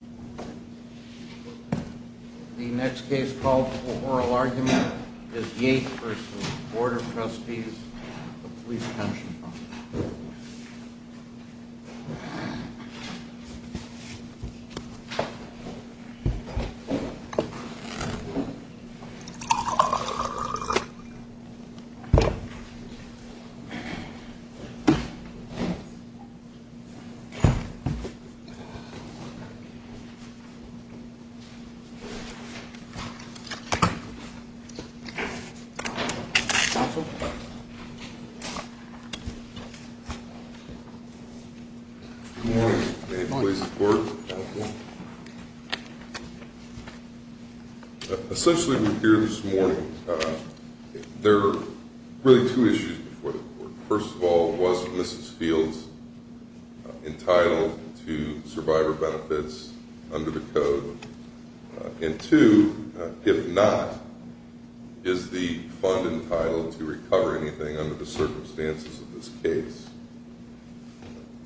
The next case called the Oral Argument is Yates v. Board of Trustees, the Police-Counseling Division. Good morning, many thanks for your support. Essentially, we are here this morning. There are really two issues before the court. First of all, was Mrs. Fields entitled to survivor benefits under the code? And two, if not, is the fund entitled to recover anything under the circumstances of this case?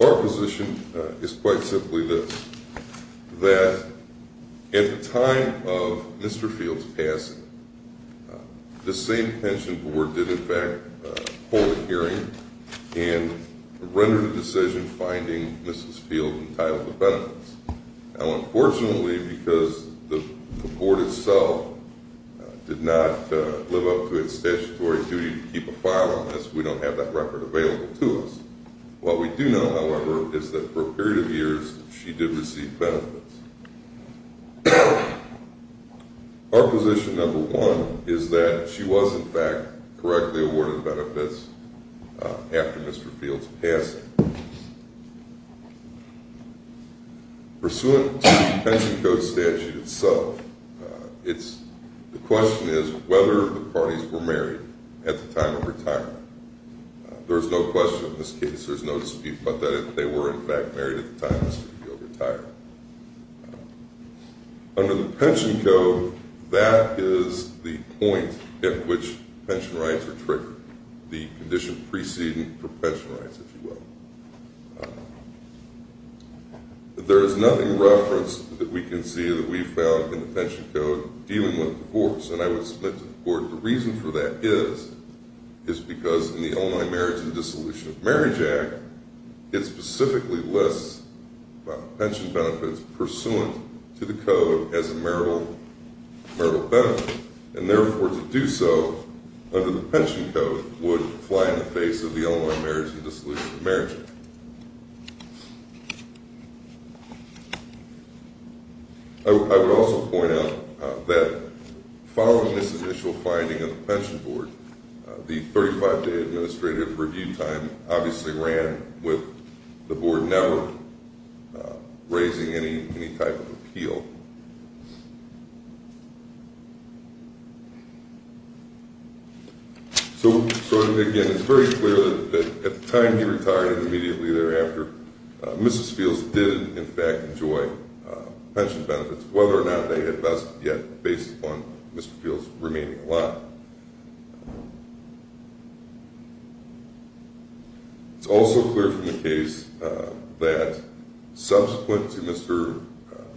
Our position is quite simply this, that at the time of Mr. Fields' passing, the same pension board did in fact hold a hearing and rendered a waiver of benefits. Now unfortunately, because the board itself did not live up to its statutory duty to keep a file on this, we don't have that record available to us. What we do know, however, is that for a period of years, she did receive benefits. Our position number one is that she was in fact correctly awarded benefits after Mr. Fields' passing. Pursuant to the pension code statute itself, the question is whether the parties were married at the time of retirement. There is no question in this case, there is no dispute about that they were in fact married at the time of Mr. Fields' retirement. Under the pension code, that is the point at which pension rights are triggered, the condition preceding for pension rights, if you will. There is nothing referenced that we can see that we found in the pension code dealing with divorce, and I would submit to the court the reason for that is because in the Illinois Marriage and Dissolution of Marriage Act, it specifically lists pension benefits pursuant to the code as a marital benefit, and therefore to do so under the pension code would fly in the face of the Illinois Marriage and Dissolution of Marriage Act. I would also point out that following this initial finding of the pension board, the 35-day administrative review time obviously ran with the board never raising any type of appeal. So again, it's very clear that at the time he retired and immediately thereafter, Mrs. Fields did in fact enjoy pension benefits, whether or not they had best yet based upon Mr. Fields remaining alive. It's also clear from the case that subsequent to Mr.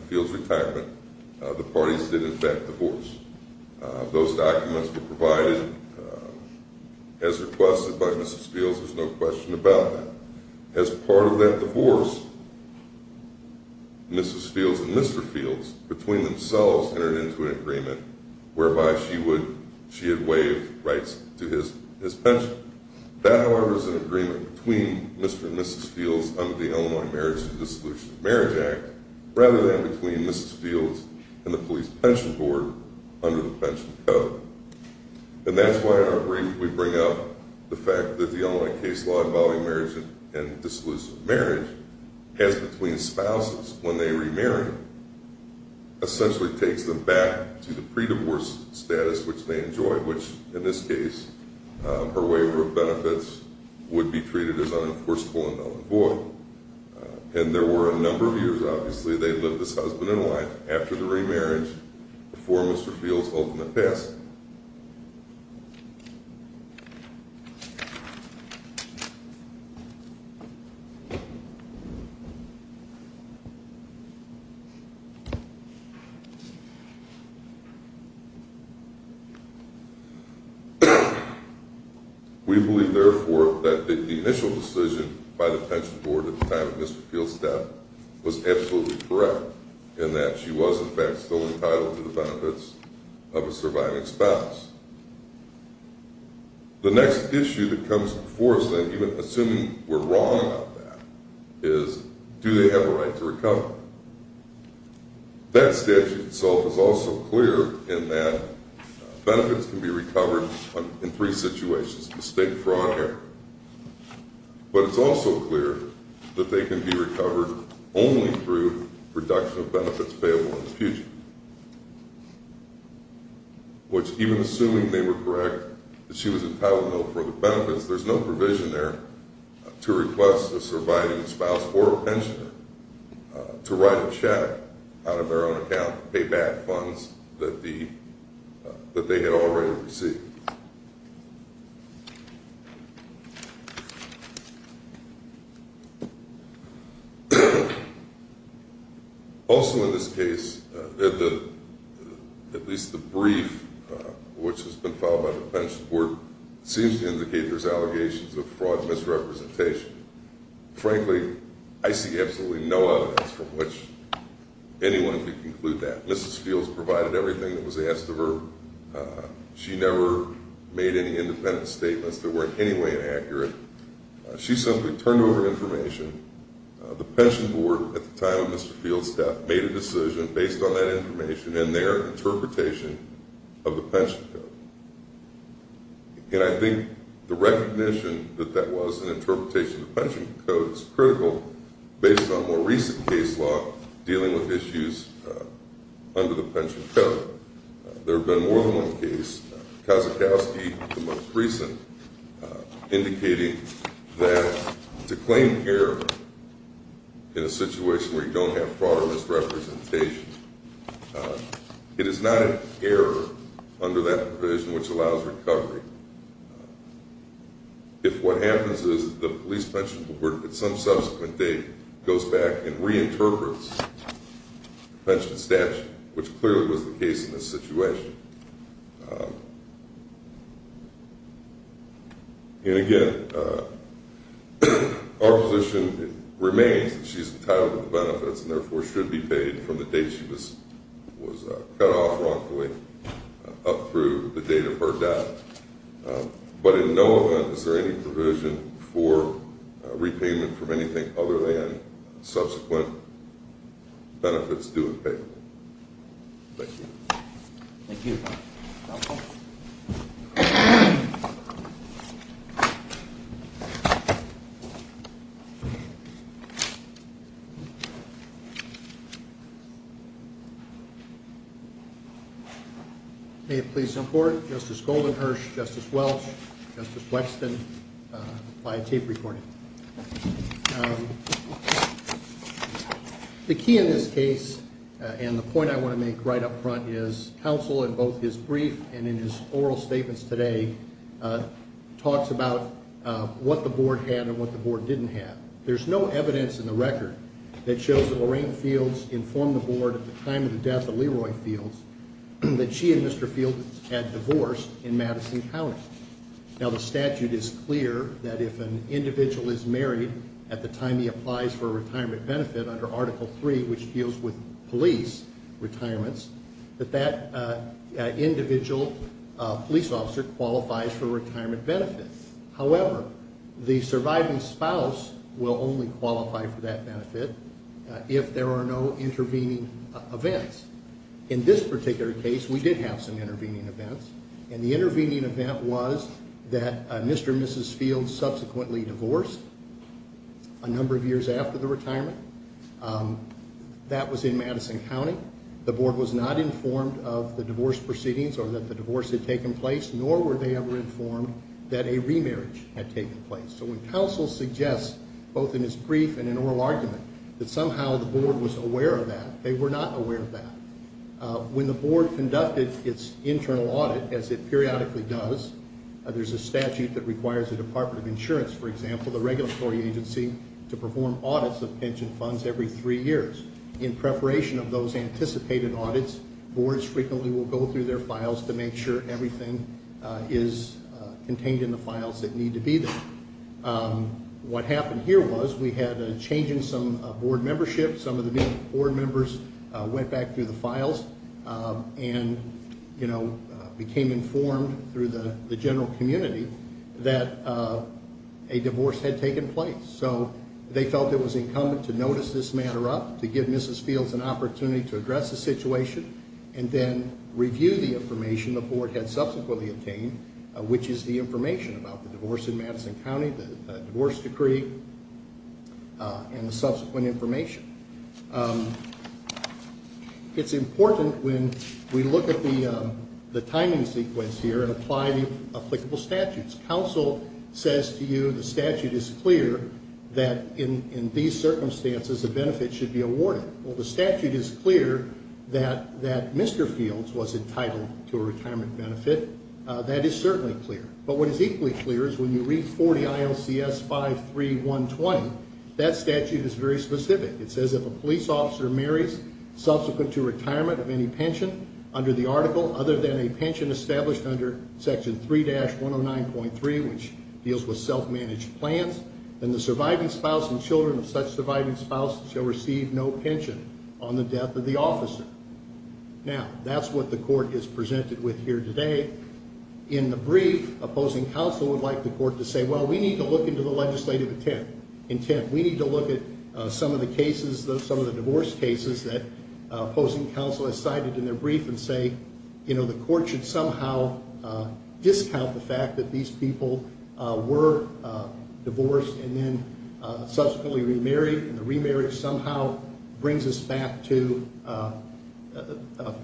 Fields' retirement, the parties did in fact divorce. Those documents were provided as requested by Mrs. Fields, there's no question about that. As part of that divorce, Mrs. Fields and Mr. Fields, between themselves, entered into an agreement whereby she would she had waived rights to his pension. That, however, is an agreement between Mr. and Mrs. Act rather than between Mrs. Fields and the police pension board under the pension code. And that's why in our brief we bring up the fact that the Illinois case law involving marriage and dissolution of marriage has between spouses when they remarry, essentially takes them back to the pre-divorce status which they enjoyed, which in this case, her waiver of benefits would be treated as unenforceable and unavoidable. And there were a number of years, obviously, they lived as husband and wife after the remarriage before Mr. Fields' ultimate passing. We believe, therefore, that the initial decision by the pension board at the time of Mr. Fields' death was absolutely correct in that she was in fact still entitled to the benefits of a surviving spouse. The next issue that comes before us then, even assuming we're wrong about that, is do they have a right to recover? That statute itself is also clear in that benefits can be recovered in three situations, estate, fraud, or inheritance. But it's also clear that they can be recovered only through reduction of benefits payable in the future, which even assuming they were correct that she was entitled to no further benefits, there's no provision there to request a surviving spouse or a pensioner to write a check out of their own account to pay back funds that they had already received. Also in this case, at least the brief which has been filed by the pension board, seems to indicate there's allegations of fraud and misrepresentation. Frankly, I see absolutely no evidence from which anyone could conclude that. Mrs. Fields provided everything that she could. She never made any independent statements that weren't in any way inaccurate. She simply turned over information. The pension board at the time of Mr. Fields' death made a decision based on that information and their interpretation of the pension code. And I think the recognition that that was an interpretation of the pension code is critical based on more Kazakowski, the most recent, indicating that to claim error in a situation where you don't have fraud or misrepresentation, it is not an error under that provision which allows recovery. If what happens is the police pension board at some subsequent date goes back and And again, our position remains that she's entitled to the benefits and therefore should be paid from the date she was cut off wrongfully up through the date of her death. But in no event is there any provision for repayment from anything other than subsequent benefits due in payment. Thank you. Thank you. May it please the court, Justice Goldenherz, Justice Welch, Justice Wexton, apply a tape The key in this case and the point I want to make right up front is counsel in both his brief and in his oral statements today talks about what the board had and what the board didn't have. There's no evidence in the record that shows that Lorraine Fields informed the board at the time of the death of Leroy Fields that she and Mr. Fields had Now the statute is clear that if an individual is married at the time he applies for a retirement benefit under Article 3, which deals with police retirements, that that individual police officer qualifies for retirement benefits. However, the surviving spouse will only qualify for that benefit if there are no intervening events. In this particular case, we did have some intervening events, and the intervening event was that Mr. and Mrs. Fields subsequently divorced a number of years after the retirement. That was in Madison County. The board was not informed of the divorce proceedings or that the divorce had taken place, nor were they ever informed that a remarriage had taken place. So when counsel suggests, both in his brief and in an oral argument, that somehow the board was aware of that, they were not as it periodically does. There's a statute that requires the Department of Insurance, for example, the regulatory agency, to perform audits of pension funds every three years. In preparation of those anticipated audits, boards frequently will go through their files to make sure everything is contained in the files that need to be there. What happened here was we had a change in some board membership. Some of the board members went back through the files and, you know, became informed through the general community that a divorce had taken place. So they felt it was incumbent to notice this matter up, to give Mrs. Fields an opportunity to address the situation, and then review the information the board had subsequently obtained, which is the information about the divorce in Madison County, the divorce decree, and the subsequent information. It's important when we look at the timing sequence here and apply the applicable statutes. Counsel says to you the statute is clear that in these circumstances, a benefit should be awarded. Well, the statute is clear that Mr. Fields was entitled to a retirement benefit. That is certainly clear. But what is equally clear is when you read 40 ILCS 53120, that statute is very specific. It says if a police officer marries subsequent to retirement of any pension under the article other than a pension established under Section 3-109.3, which deals with self-managed plans, then the surviving spouse and children of such surviving spouse shall receive no pension on the death of the officer. Now, that's what the court is presented with here today. In the brief, opposing counsel would like the court to say, well, we need to look into the legislative intent. We need to look at some of the cases, some of the divorce cases that opposing counsel has cited in their brief and say, you know, the court should somehow discount the fact that these people were divorced and then subsequently remarried, and the remarriage somehow brings us back to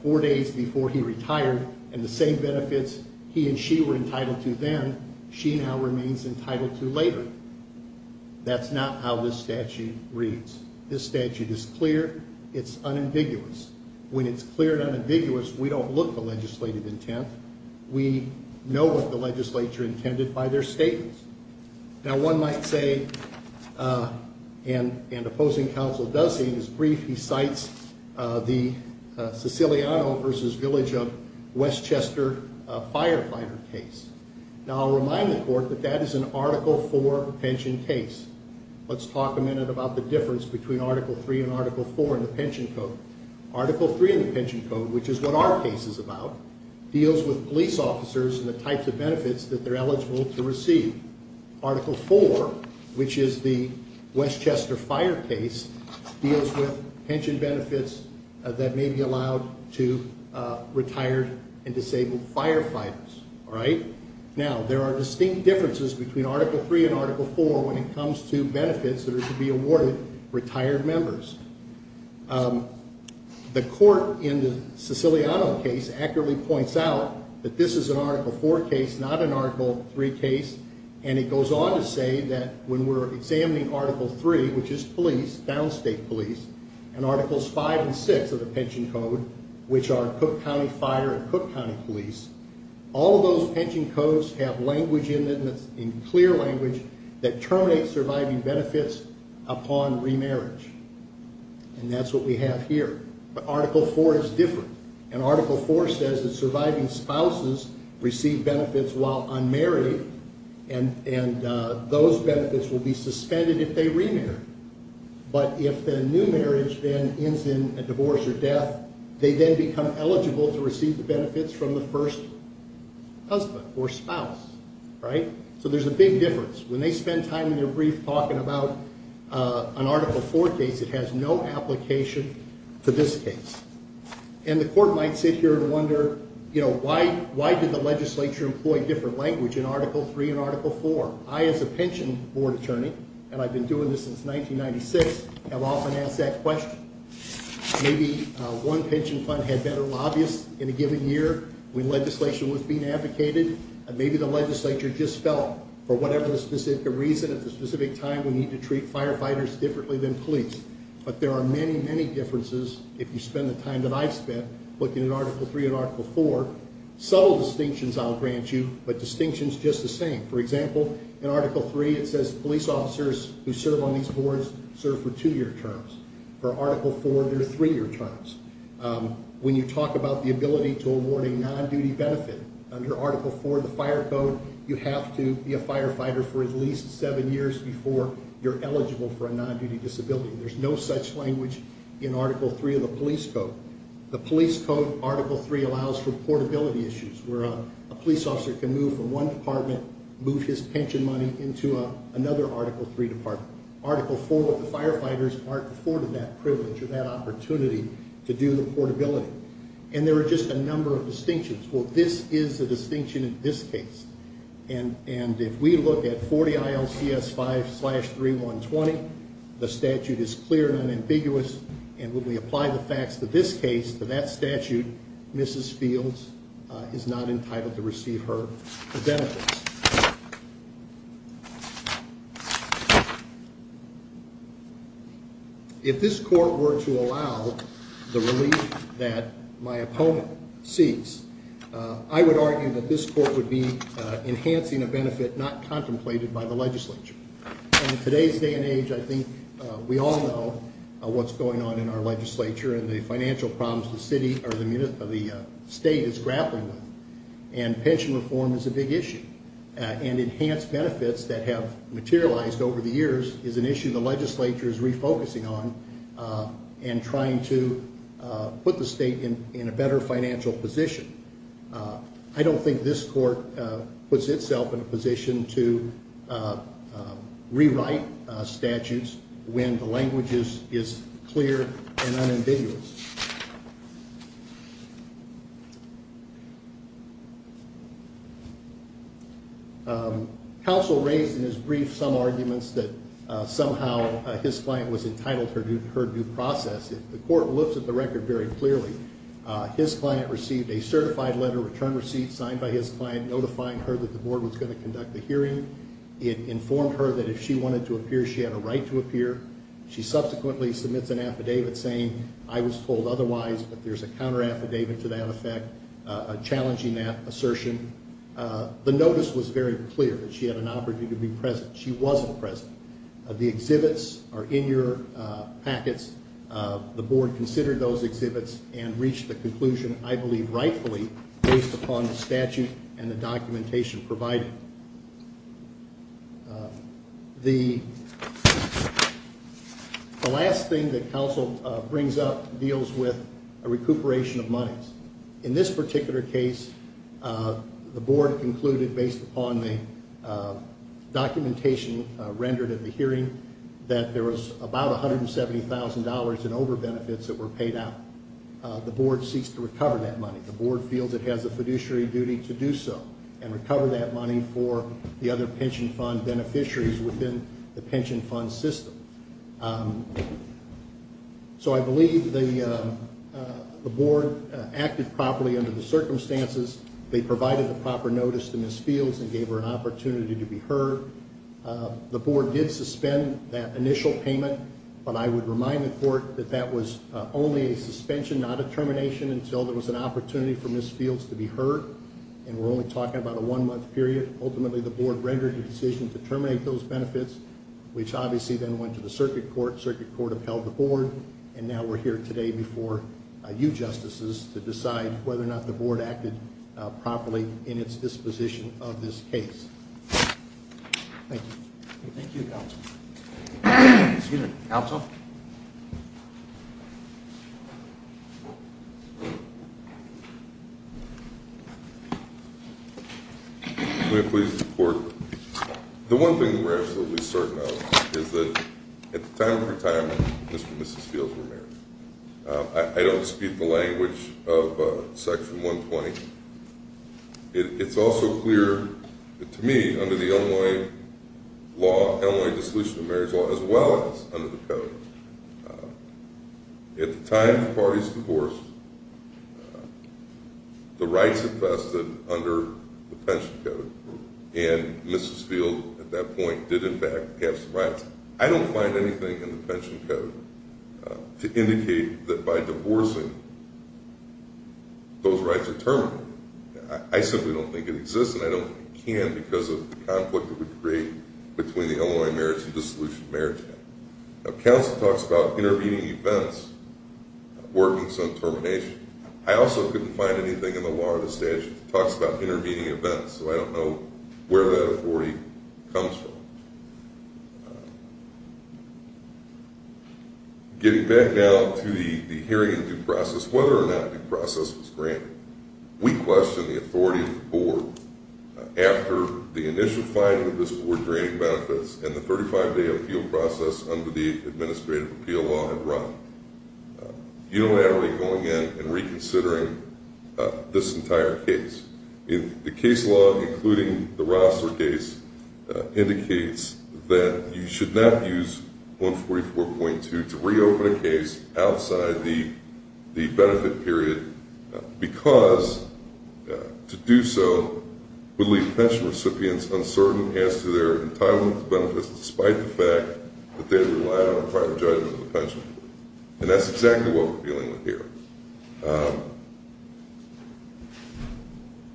four days before he retired and the same benefits he and she were entitled to then she now remains entitled to later. That's not how this statute reads. This statute is clear. It's unambiguous. When it's clear and unambiguous, we don't look at the legislative intent. We know what the legislature intended by their statements. Now, one might say, and this is the Siciliano v. Village of Westchester firefighter case. Now, I'll remind the court that that is an Article IV pension case. Let's talk a minute about the difference between Article III and Article IV in the pension code. Article III in the pension code, which is what our case is about, deals with police officers and the types of benefits that they're eligible to receive. Article IV, which is the Westchester fire case, deals with pension benefits that may be allowed to retired and disabled firefighters. Now, there are distinct differences between Article III and Article IV when it comes to benefits that are to be awarded to retired members. The court in the Siciliano case accurately points out that this is an Article IV case, not an Article III case, and it goes on to say that when articles V and VI of the pension code, which are Cook County Fire and Cook County Police, all of those pension codes have language in them that's in clear language that terminates surviving benefits upon remarriage, and that's what we have here. But Article IV is different, and Article IV says that surviving spouses receive benefits while unmarried, and those benefits will be suspended if they remarry. But if the new marriage then ends in a divorce or death, they then become eligible to receive the benefits from the first husband or spouse, right? So there's a big difference. When they spend time in their brief talking about an Article IV case, it has no application to this case. And the court might sit here and wonder, you know, why did the legislature employ different language in Article III and Article IV? I, as a pension board attorney, and I've been doing this since 1996, have often asked that question. Maybe one pension fund had better lobbyists in a given year when legislation was being advocated, and maybe the legislature just felt for whatever specific reason at the specific time we need to treat firefighters differently than police. But there are many, many differences if you spend the time that I've spent looking at Article III and Article IV. Subtle distinctions I'll grant you, but distinctions just the same. For example, in Article III, it says police officers who serve on these boards serve for two-year terms. For Article IV, they're three-year terms. When you talk about the ability to award a non-duty benefit, under Article IV, the fire code, you have to be a firefighter for at least seven years before you're eligible for a non-duty disability. There's no such language in Article III of the police code. The police code, Article III allows for portability issues, where a police officer can move from one department, move his pension money into another Article III department. Article IV, the firefighters aren't afforded that privilege or that opportunity to do the portability. And there are just a number of distinctions. Well, this is a distinction in this case, and if we look at 40 ILCS 5-3120, the statute is clear and unambiguous, and when we apply the facts to this case, to that statute, Mrs. Fields is not entitled to receive her benefits. If this court were to allow the relief that my opponent seeks, I would argue that this court would be enhancing a benefit not contemplated by the legislature. In today's day and age, I think we all know what's going on in our legislature and the financial problems the state is grappling with. And pension reform is a big issue. And enhanced benefits that have materialized over the years is an issue the legislature is refocusing on and trying to put the state in a better financial position. I don't think this court puts itself in a when the language is clear and unambiguous. Counsel raised in his brief some arguments that somehow his client was entitled to her due process. The court looks at the record very clearly. His client received a certified letter of return receipt signed by his client notifying her that the board was going to appear. She subsequently submits an affidavit saying, I was told otherwise, but there's a counter affidavit to that effect challenging that assertion. The notice was very clear that she had an opportunity to be present. She wasn't present. The exhibits are in your packets. The board considered those exhibits and reached the conclusion, I believe rightfully, based upon the statute and the documentation provided. The last thing that counsel brings up deals with a recuperation of monies. In this particular case, the board concluded, based upon the documentation rendered at the hearing, that there was about $170,000 in overbenefits that were paid out. The board ceased to recover that money. The board feels it has a fiduciary duty to do so and recover that money for the other pension fund beneficiaries within the pension fund system. So I believe the board acted properly under the circumstances. They provided the proper notice to Ms. Fields and gave her an opportunity to be heard. The board did suspend that initial payment, but I would remind the court that that was only a suspension, not a termination, until there was an opportunity for Ms. Fields to be heard, and we're only talking about a one-month period. Ultimately, the board rendered a decision to terminate those benefits, which obviously then went to the circuit court. The circuit court upheld the board, and now we're here today before you, Justices, to decide whether or not the board acted properly in its disposition of this case. Thank you. Thank you, Counsel. Excuse me, Counsel? May I please report? The one thing that we're absolutely certain of is that at the time of her time, Mr. and Mrs. Fields were married. I don't speak the language of Section 120. It's also clear to me under the Illinois Law, Illinois Dissolution of Marriages Law, as well as under the Code, at the time the parties divorced, the rights infested under the pension code, and Mrs. Fields at that point did in fact have some rights. I don't find anything in the pension code to indicate that by divorcing, those rights are terminated. I simply don't think it exists, and I don't think it can because of the conflict it would create between the Illinois Marriage and Dissolution of Marriages Act. Counsel talks about intervening events, workings on termination. I also couldn't find anything in the law or the statute that talks about intervening events, so I don't know where that authority comes from. Getting back now to the hearing of due process, whether or not due process was granted, we question the authority of the Board after the initial finding of this Board granting benefits and the 35-day appeal process under the Administrative Appeal Law had run, unilaterally going in and reconsidering this entire case. The case law, including the Rossler case, indicates that you should not use 144.2 to reopen a case outside the benefit period because to do so would leave pension recipients uncertain as to their entitlement to benefits despite the fact that they rely on a prior judgment of the pension. And that's exactly what we're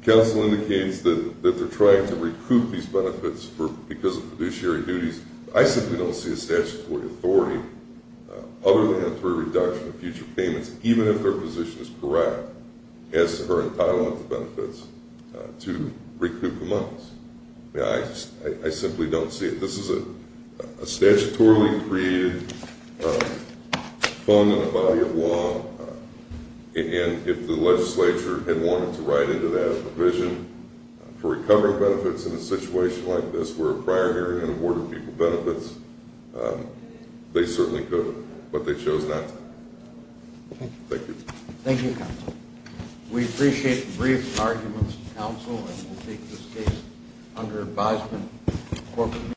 Counsel indicates that they're trying to recoup these benefits because of fiduciary duties. I simply don't see a statutory authority other than for a reduction of future payments even if their position is correct as to her entitlement to benefits to recoup the monies. I simply don't see it. This is a statutorily created fund in the body of law, and if the legislature had wanted to write into that a provision for recovering benefits in a situation like this where a prior hearing had awarded people benefits, they certainly could, but they chose not to. Thank you. Thank you, Counsel. We appreciate the brief arguments of Counsel and we'll take this case under advisement.